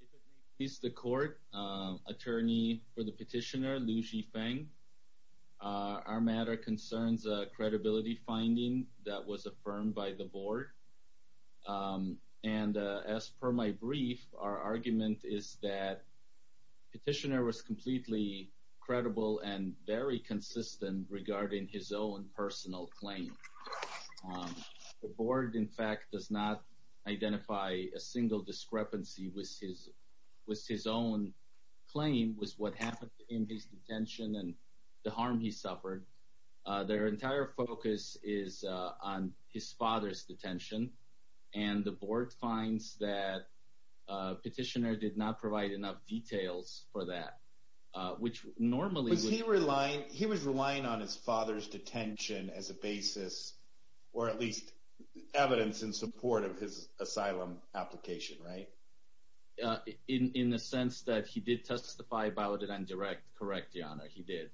If it may please the court, attorney for the petitioner Liu Zifeng, our matter concerns a credibility finding that was affirmed by the board. And as per my brief, our argument is that the petitioner was completely credible and very consistent regarding his own personal claims. The board, in fact, does not identify a single discrepancy with his own claim, with what happened in his detention and the harm he suffered. Their entire focus is on his father's detention, and the board finds that the petitioner did not provide enough details for that, which normally would be... Or at least evidence in support of his asylum application, right? In the sense that he did testify about it and direct, correct your honor, he did.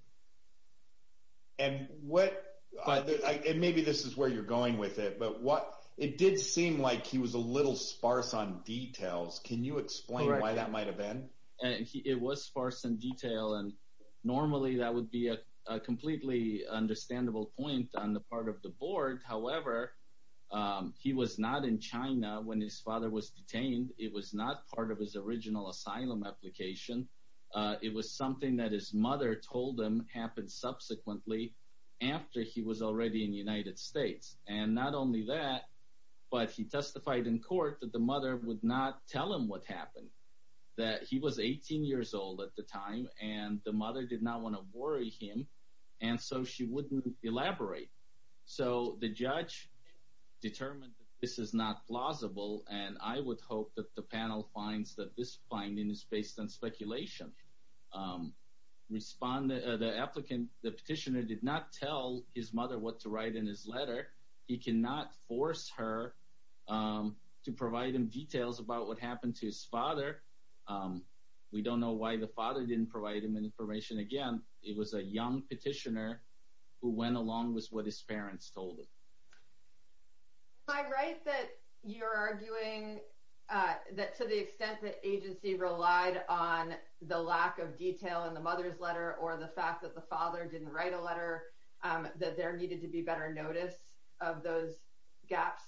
And maybe this is where you're going with it, but it did seem like he was a little sparse on details. Can you explain why that might have been? It was sparse in detail, and normally that would be a completely understandable point on the part of the board. However, he was not in China when his father was detained. It was not part of his original asylum application. It was something that his mother told him happened subsequently after he was already in the United States. And not only that, but he testified in court that the mother would not tell him what happened, that he was 18 years old at the time, and the mother did not want to worry him. And so she wouldn't elaborate. So the judge determined that this is not plausible, and I would hope that the panel finds that this finding is based on speculation. The applicant, the petitioner, did not tell his mother what to write in his letter. He cannot force her to provide him details about what happened to his father. We don't know why the father didn't provide him information again. It was a young petitioner who went along with what his parents told him. Am I right that you're arguing that to the extent that agency relied on the lack of detail in the mother's letter or the fact that the father didn't write a letter, that there needed to be better notice of those gaps?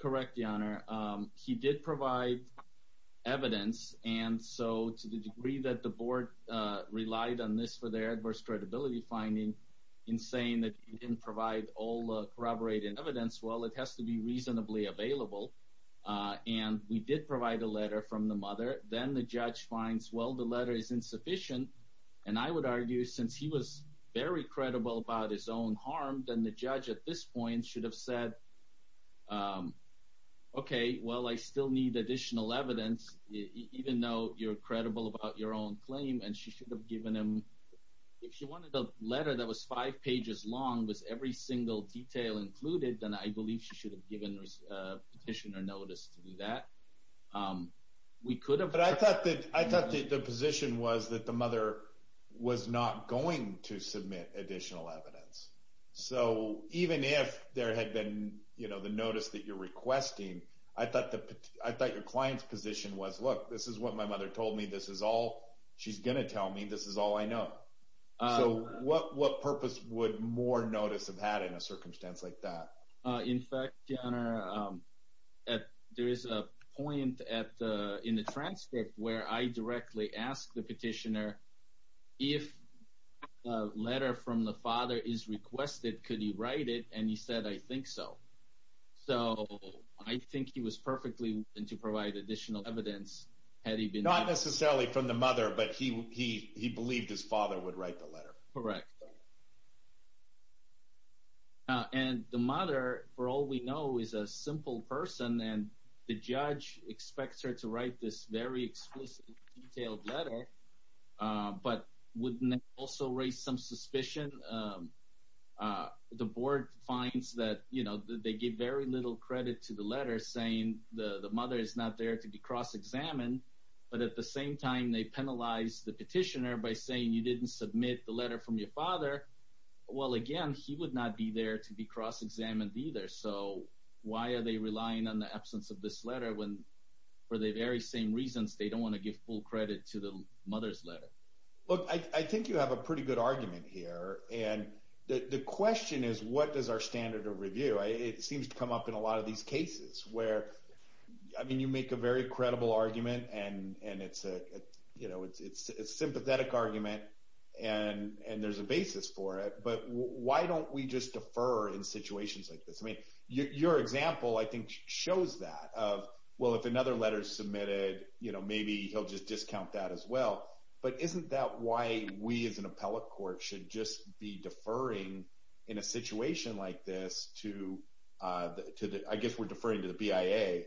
Correct, Your Honor. He did provide evidence. And so to the degree that the board relied on this for their adverse credibility finding, in saying that he didn't provide all the corroborated evidence, well, it has to be reasonably available. And we did provide a letter from the mother. Then the judge finds, well, the letter is insufficient. And I would argue, since he was very credible about his own harm, then the judge at this point should have said, OK, well, I still need additional evidence, even though you're credible about your own claim. And she should have given him, if she wanted a letter that was five pages long with every single detail included, then I believe she should have given the petitioner notice to do that. We could have. But I thought that the position was that the mother was not going to submit additional evidence. So even if there had been the notice that you're requesting, I thought your client's position was, look, this is what my mother told me. This is all she's going to tell me. This is all I know. So what purpose would more notice have had in a circumstance like that? In fact, Your Honor, there is a point in the transcript where I directly asked the petitioner if a letter from the father is requested, could he write it? And he said, I think so. So I think he was perfectly willing to provide additional evidence had he been Not necessarily from the mother, but he believed his father would write the letter. Correct. And the mother, for all we know, is a simple person. And the judge expects her to write this very explicit, detailed letter. But wouldn't that also raise some suspicion? The board finds that they give very little credit to the letter saying the mother is not there to be cross-examined. But at the same time, they penalize the petitioner by saying you didn't submit the letter from your father. Well, again, he would not be there to be cross-examined either. So why are they relying on the absence of this letter when, for the very same reasons, they don't want to give full credit to the mother's letter? Look, I think you have a pretty good argument here. And the question is, what is our standard of review? It seems to come up in a lot of these cases where, I mean, you make a very credible argument, and it's a sympathetic argument, and there's a basis for it. But why don't we just defer in situations like this? Your example, I think, shows that. Of, well, if another letter is submitted, maybe he'll just discount that as well. But isn't that why we, as an appellate court, should just be deferring in a situation like this to the, I guess we're deferring to the BIA,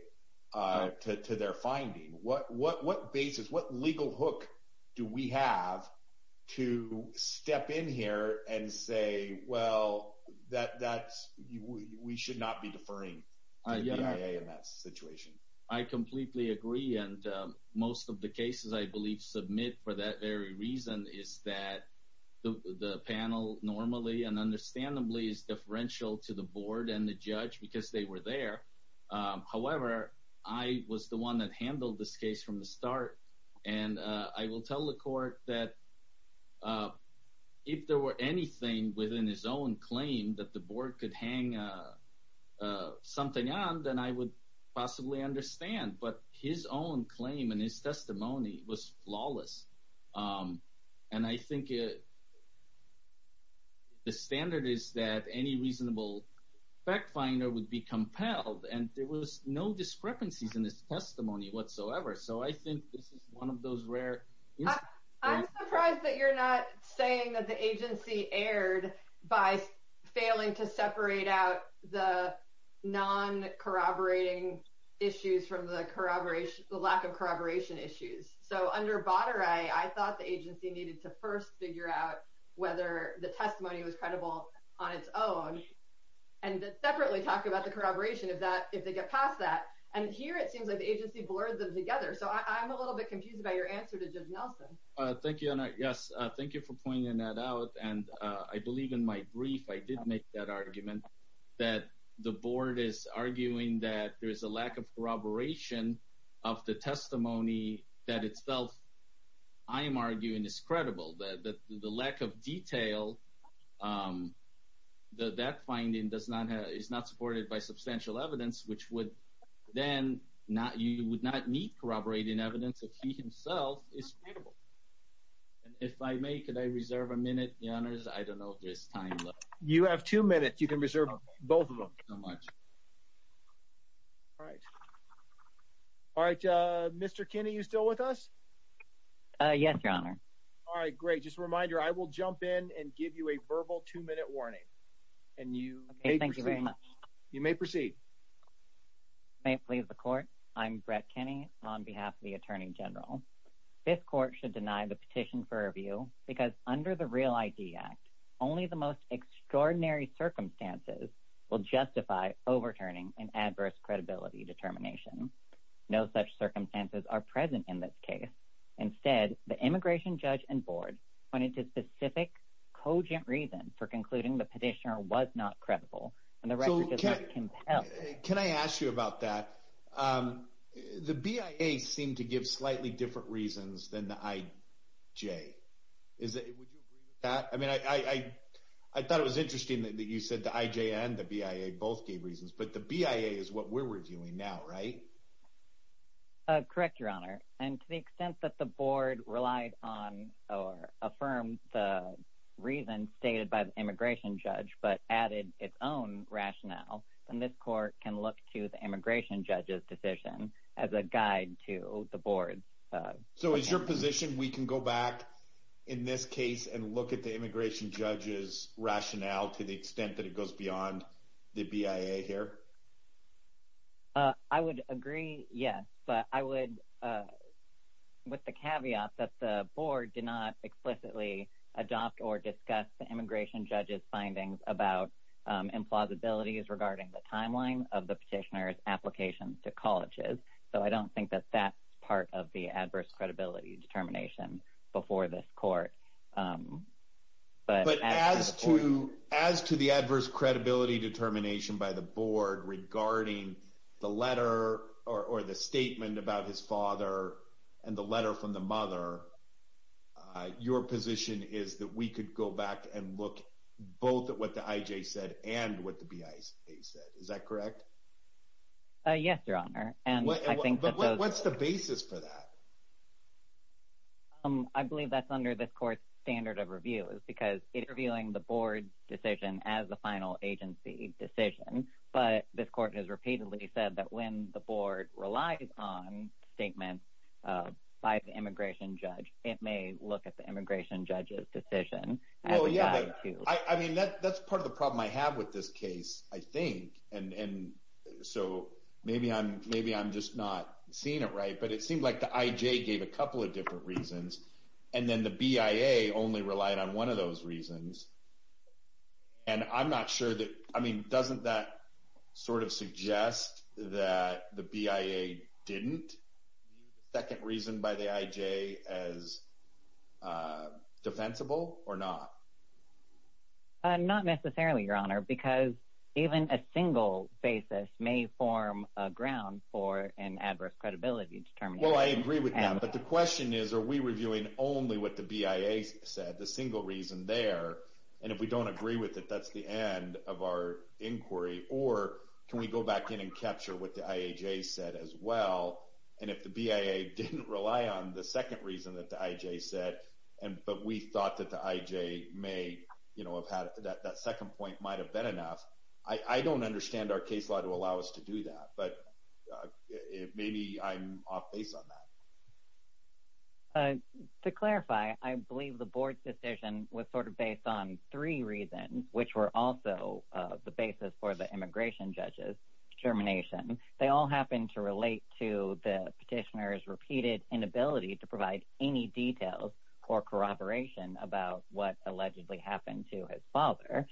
to their finding? What basis, what legal hook do we have to step in here and say, well, we should not be deferring to the BIA in that situation? I completely agree. And most of the cases I believe submit for that very reason is that the panel normally and understandably is differential to the board and the judge because they were there. However, I was the one that handled this case from the start, and I will tell the court that if there were anything within his own claim that the board could hang something on, then I would possibly understand. But his own claim and his testimony was flawless. And I think the standard is that any reasonable fact finder would be compelled, and there was no discrepancies in his testimony whatsoever. So I think this is one of those rare instances. I'm surprised that you're not saying that the agency erred by failing to separate out the non-corroborating issues from the lack of corroboration issues. So under Batare, I thought the agency needed to first figure out whether the testimony was credible on its own and separately talk about the corroboration if they get past that. And here it seems like the agency blurred them together. So I'm a little bit confused about your answer to Judge Nelson. Thank you, Anna. Yes. Thank you for pointing that out. And I believe in my brief, I did make that argument that the board is arguing that there itself, I am arguing, is credible. That the lack of detail, that that finding is not supported by substantial evidence, which would then, you would not need corroborating evidence if he himself is credible. And if I may, could I reserve a minute, Your Honors? I don't know if there's time left. You have two minutes. You can reserve both of them. All right. All right, Mr. Kinney, are you still with us? Yes, Your Honor. All right, great. Just a reminder, I will jump in and give you a verbal two-minute warning. And you may proceed. Thank you very much. You may proceed. May it please the court, I'm Brett Kinney on behalf of the Attorney General. This court should deny the petition for review because under the REAL ID Act, only the most extraordinary circumstances will justify overturning an adverse credibility determination. No such circumstances are present in this case. Instead, the immigration judge and board pointed to specific, cogent reasons for concluding the petitioner was not credible. And the record does not compel- Can I ask you about that? The BIA seemed to give slightly different reasons than the IJ. Would you agree with that? I thought it was interesting that you said the IJ and the BIA both gave reasons, but the BIA is what we're reviewing now, right? Correct, Your Honor. And to the extent that the board relied on or affirmed the reason stated by the immigration judge but added its own rationale, then this court can look to the immigration judge's decision as a guide to the board. So is your position we can go back in this case and look at the immigration judge's rationale to the extent that it goes beyond the BIA here? I would agree, yes. But I would, with the caveat that the board did not explicitly adopt or discuss the immigration judge's findings about implausibilities regarding the timeline of the petitioner's applications to colleges. So I don't think that that's part of the adverse credibility determination before this court. But as to the adverse credibility determination by the board regarding the letter or the statement about his father and the letter from the mother, your position is that we could go back and look both at what the IJ said and what the BIA said, is that correct? Yes, Your Honor. But what's the basis for that? I believe that's under this court's standard of review. It's because it's reviewing the board's decision as the final agency decision. But this court has repeatedly said that when the board relies on statements by the immigration judge, it may look at the immigration judge's decision as a guide to. I mean, that's part of the problem I have with this case, I think. And so maybe I'm just not seeing it right. But it seemed like the IJ gave a couple of different reasons, and then the BIA only relied on one of those reasons. And I'm not sure that, I mean, doesn't that sort of suggest that the BIA didn't view the second reason by the IJ as defensible or not? Not necessarily, Your Honor, because even a single basis may form a ground for an adverse credibility determination. Well, I agree with that. But the question is, are we reviewing only what the BIA said, the single reason there? And if we don't agree with it, that's the end of our inquiry. Or can we go back in and capture what the IAJ said as well? And if the BIA didn't rely on the second reason that the IJ said, but we thought that the you know, that second point might have been enough, I don't understand our case law to allow us to do that. But maybe I'm off base on that. To clarify, I believe the board's decision was sort of based on three reasons, which were also the basis for the immigration judge's determination. They all happen to relate to the petitioner's repeated inability to provide any details or corroboration about what allegedly happened to his father.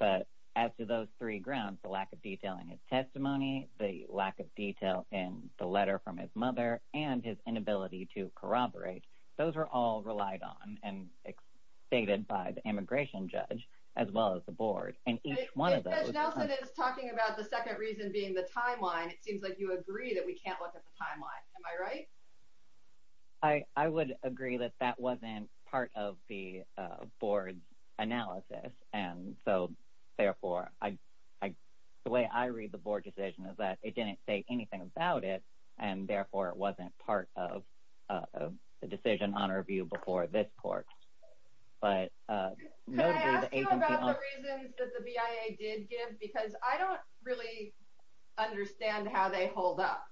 But as to those three grounds, the lack of detail in his testimony, the lack of detail in the letter from his mother, and his inability to corroborate, those are all relied on and stated by the immigration judge, as well as the board. And each one of those is talking about the second reason being the timeline. It seems like you agree that we can't look at the timeline. Am I right? I would agree that that wasn't part of the board's analysis. And so, therefore, the way I read the board decision is that it didn't say anything about it. And therefore, it wasn't part of the decision on review before this court. But- Can I ask you about the reasons that the BIA did give? Because I don't really understand how they hold up.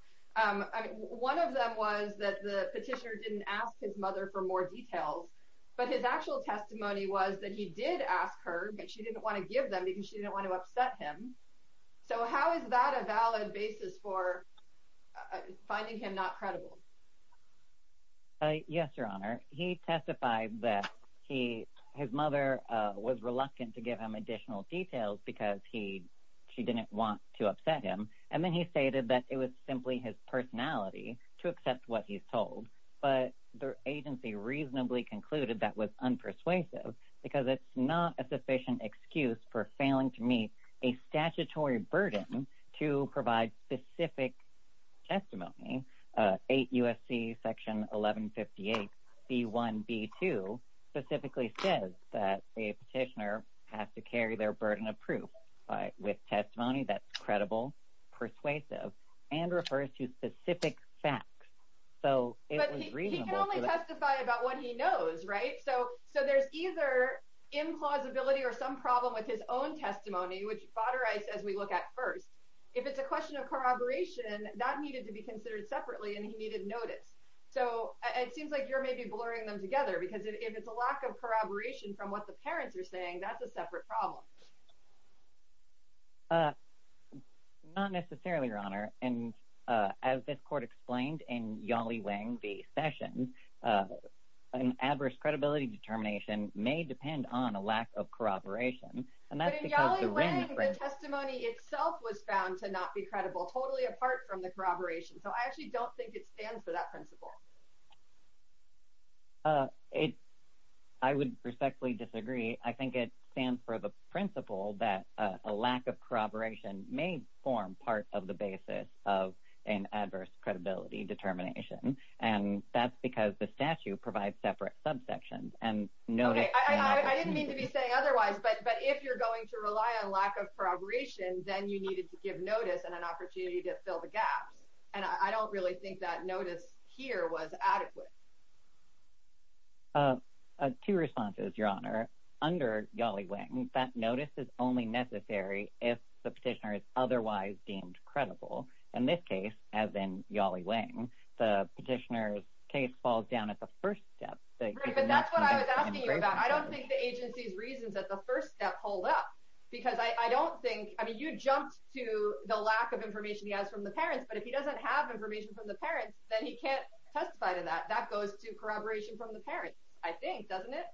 One of them was that the petitioner didn't ask his mother for more details, but his actual testimony was that he did ask her, but she didn't want to give them because she didn't want to upset him. So how is that a valid basis for finding him not credible? Yes, Your Honor. He testified that his mother was reluctant to give him additional details because she didn't want to upset him. And then he stated that it was simply his personality to accept what he's told. But the agency reasonably concluded that was unpersuasive because it's not a sufficient excuse for failing to meet a statutory burden to provide specific testimony. 8 U.S.C. Section 1158, B1, B2 specifically says that a petitioner has to carry their burden of proof with testimony that's credible. Persuasive. And refers to specific facts. So it was reasonable. But he can only testify about what he knows, right? So there's either implausibility or some problem with his own testimony, which Baderai says we look at first. If it's a question of corroboration, that needed to be considered separately and he needed notice. So it seems like you're maybe blurring them together because if it's a lack of corroboration from what the parents are saying, that's a separate problem. Not necessarily, Your Honor. And as this court explained in Yali Wang v. Sessions, an adverse credibility determination may depend on a lack of corroboration. But in Yali Wang, the testimony itself was found to not be credible, totally apart from the corroboration. So I actually don't think it stands for that principle. I would respectfully disagree. I think it stands for the principle that a lack of corroboration may form part of the basis of an adverse credibility determination. And that's because the statute provides separate subsections. Okay, I didn't mean to be saying otherwise, but if you're going to rely on lack of corroboration, then you needed to give notice and an opportunity to fill the gaps. And I don't really think that notice here was adequate. Two responses, Your Honor. Under Yali Wang, that notice is only necessary if the petitioner is otherwise deemed credible. In this case, as in Yali Wang, the petitioner's case falls down at the first step. Right, but that's what I was asking you about. I don't think the agency's reasons at the first step hold up. Because I don't think, I mean, you jumped to the lack of information he has from the parents, but if he doesn't have information from the parents, then he can't testify to that. That goes to corroboration from the parents, I think, doesn't it?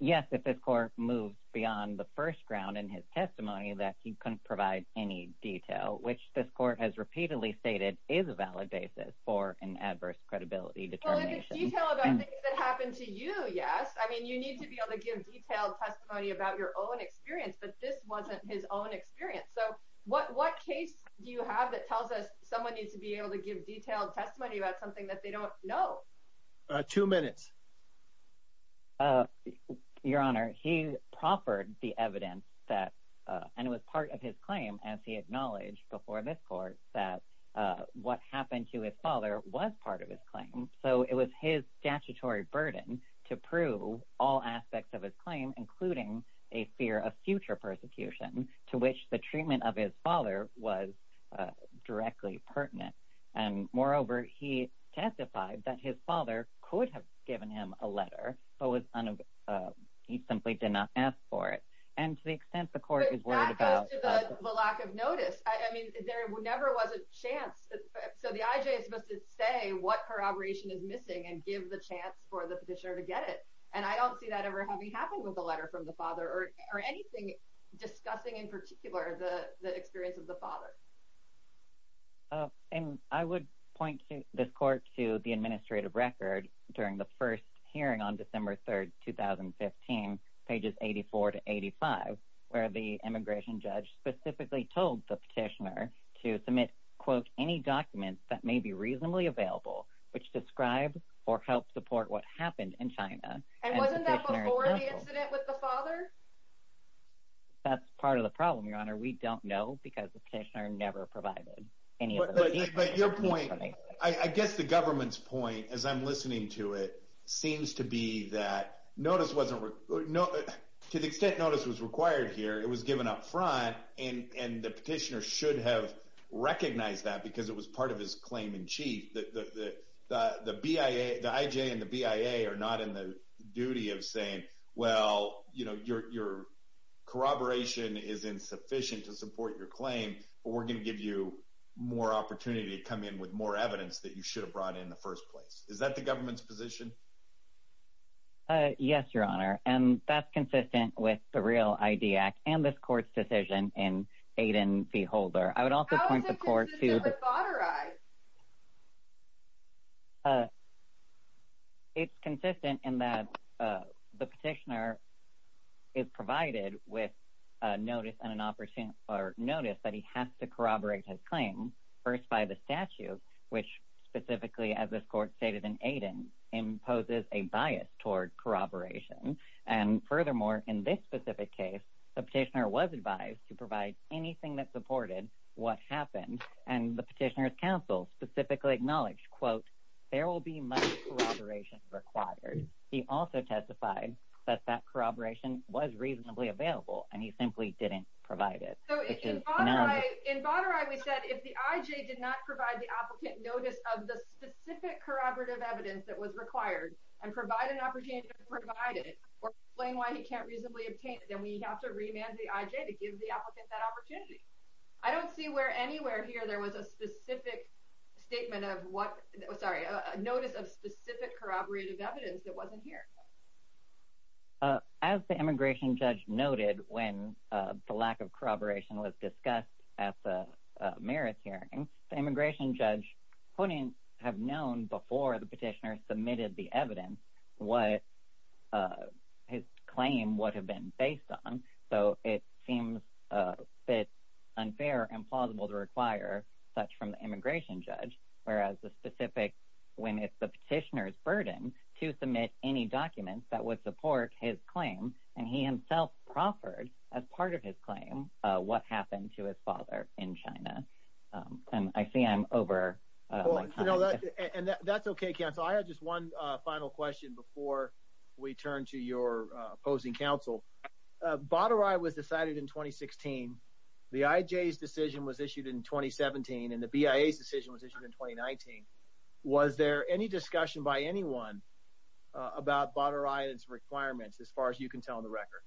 Yes, if this court moves beyond the first round in his testimony that he couldn't provide any detail, which this court has repeatedly stated is a valid basis for an adverse credibility determination. Well, in the detail about things that happened to you, yes. I mean, you need to be able to give detailed testimony about your own experience, but this wasn't his own experience. So what case do you have that tells us someone needs to be able to give detailed testimony about something that they don't know? Two minutes. Your Honor, he proffered the evidence that, and it was part of his claim, as he acknowledged before this court, that what happened to his father was part of his claim. So it was his statutory burden to prove all aspects of his claim, including a fear of treatment of his father was directly pertinent. And moreover, he testified that his father could have given him a letter, but he simply did not ask for it. And to the extent the court is worried about- But that goes to the lack of notice. I mean, there never was a chance. So the IJ is supposed to say what corroboration is missing and give the chance for the petitioner to get it. And I don't see that ever having happened with a letter from the father or anything discussing in particular the experience of the father. And I would point this court to the administrative record during the first hearing on December 3rd, 2015, pages 84 to 85, where the immigration judge specifically told the petitioner to submit, quote, any documents that may be reasonably available, which describe or help support what happened in China. And wasn't that before the incident with the father? That's part of the problem, Your Honor. We don't know because the petitioner never provided any of those details. But your point, I guess the government's point, as I'm listening to it, seems to be that notice wasn't- to the extent notice was required here, it was given up front, and the petitioner should have recognized that because it was part of his claim in chief. The IJ and the BIA are not in the duty of saying, well, you know, you're corroboration is insufficient to support your claim, but we're going to give you more opportunity to come in with more evidence that you should have brought in the first place. Is that the government's position? Yes, Your Honor. And that's consistent with the Real ID Act and this court's decision in Aiden v. Holder. I would also point the court to- How is it consistent with father I? It's consistent in that the petitioner is provided with a notice and an opportunity- or notice that he has to corroborate his claim first by the statute, which specifically, as this court stated in Aiden, imposes a bias toward corroboration. And furthermore, in this specific case, the petitioner was advised to provide anything that supported what happened. And the petitioner's counsel specifically acknowledged, quote, there will be much corroboration required. He also testified that that corroboration was reasonably available and he simply didn't provide it. In father I, we said if the IJ did not provide the applicant notice of the specific corroborative evidence that was required and provide an opportunity to provide it or explain why he can't reasonably obtain it, then we have to remand the IJ to give the applicant that opportunity. I don't see where anywhere here there was a specific statement of what- sorry, a notice of specific corroborative evidence that wasn't here. As the immigration judge noted when the lack of corroboration was discussed at the merits hearing, the immigration judge couldn't have known before the petitioner submitted the evidence what his claim would have been based on. So it seems a bit unfair and plausible to require such from the immigration judge, whereas the specific- when it's the petitioner's burden to submit any documents that would support his claim, and he himself proffered as part of his claim what happened to his father in China. And I see I'm over- Well, you know, and that's okay, counsel. I have just one final question before we turn to your opposing counsel. Baderai was decided in 2016, the IJ's decision was issued in 2017, and the BIA's decision was issued in 2019. Was there any discussion by anyone about Baderai and its requirements as far as you can tell on the record?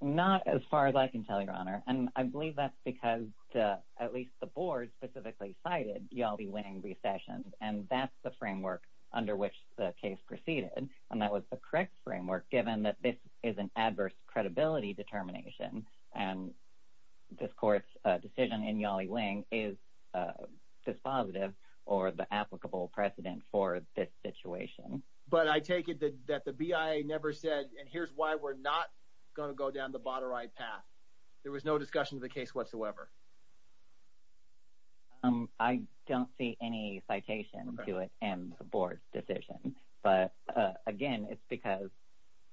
Not as far as I can tell, Your Honor. And I believe that's because, at least the board specifically cited, you'll be winning recessions. And that's the framework under which the case proceeded. And that was the correct framework, given that this is an adverse credibility determination. And this court's decision in Yali Wing is dispositive or the applicable precedent for this situation. But I take it that the BIA never said, and here's why we're not going to go down the Baderai path. There was no discussion of the case whatsoever. I don't see any citation to it in the board's decision. But again, it's because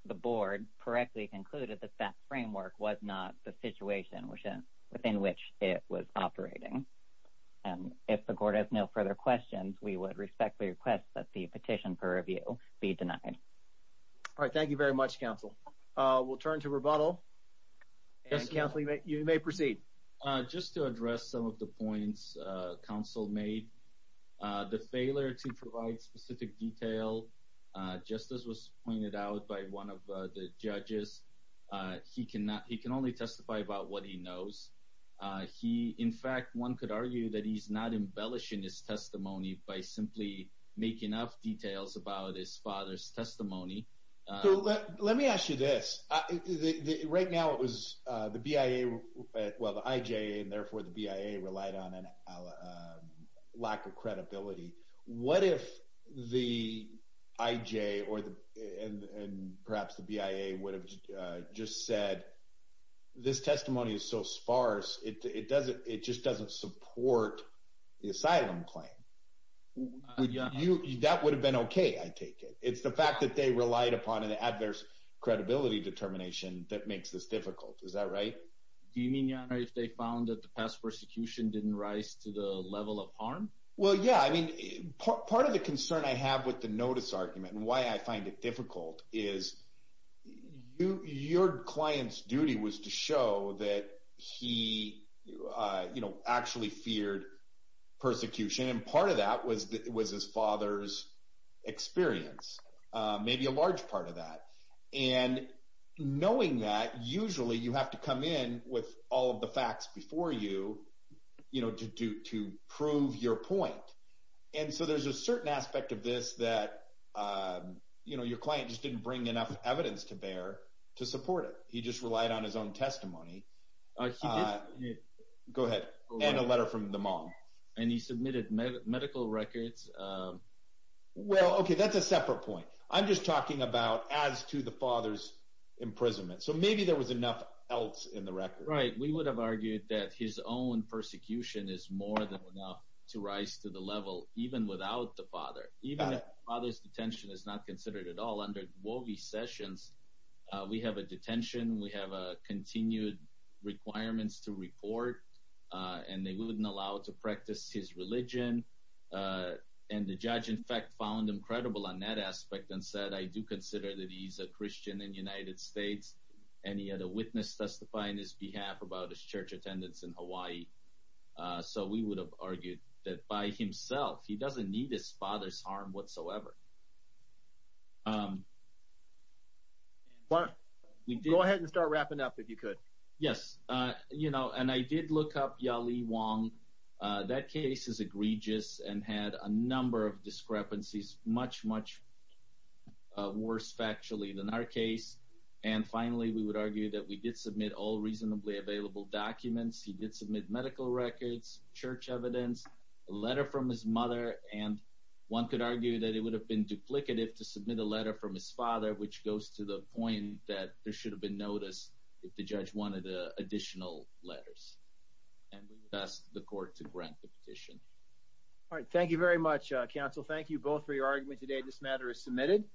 the board correctly concluded that that framework was not the situation within which it was operating. And if the court has no further questions, we would respectfully request that the petition per review be denied. All right. Thank you very much, counsel. We'll turn to rebuttal. Counsel, you may proceed. Just to address some of the points counsel made, the failure to provide specific detail, just as was pointed out by one of the judges, he can only testify about what he knows. In fact, one could argue that he's not embellishing his testimony by simply making up details about his father's testimony. Let me ask you this. Right now, it was the BIA, well, the IJA, and therefore the BIA relied on a lack of credibility. What if the IJA or perhaps the BIA would have just said, this testimony is so sparse, it just doesn't support the asylum claim? That would have been okay, I take it. It's the fact that they relied upon an adverse credibility determination that makes this difficult. Is that right? Do you mean if they found that the past persecution didn't rise to the level of harm? Well, yeah. I mean, part of the concern I have with the notice argument and why I find it difficult is your client's duty was to show that he actually feared persecution. Part of that was his father's experience, maybe a large part of that. Knowing that, usually you have to come in with all of the facts before you to prove your point. So there's a certain aspect of this that your client just didn't bring enough evidence to bear to support it. He just relied on his own testimony. Go ahead, and a letter from the mom. And he submitted medical records. Well, okay, that's a separate point. I'm just talking about as to the father's imprisonment. So maybe there was enough else in the record. Right. We would have argued that his own persecution is more than enough to rise to the level, even without the father. Even if the father's detention is not considered at all, under Wogey Sessions, we have a continued requirements to report, and they wouldn't allow to practice his religion. And the judge, in fact, found him credible on that aspect and said, I do consider that he's a Christian in the United States, and he had a witness testify on his behalf about his church attendance in Hawaii. So we would have argued that by himself, he doesn't need his father's harm whatsoever. Go ahead and start wrapping up if you could. Yes. And I did look up Yali Wong. That case is egregious and had a number of discrepancies, much, much worse factually than our case. And finally, we would argue that we did submit all reasonably available documents. He did submit medical records, church evidence, a letter from his mother. And one could argue that it would have been duplicative to submit a letter from his father, which goes to the point that there should have been notice if the judge wanted additional letters. And we would ask the court to grant the petition. All right. Thank you very much, counsel. Thank you both for your argument today. This matter is submitted.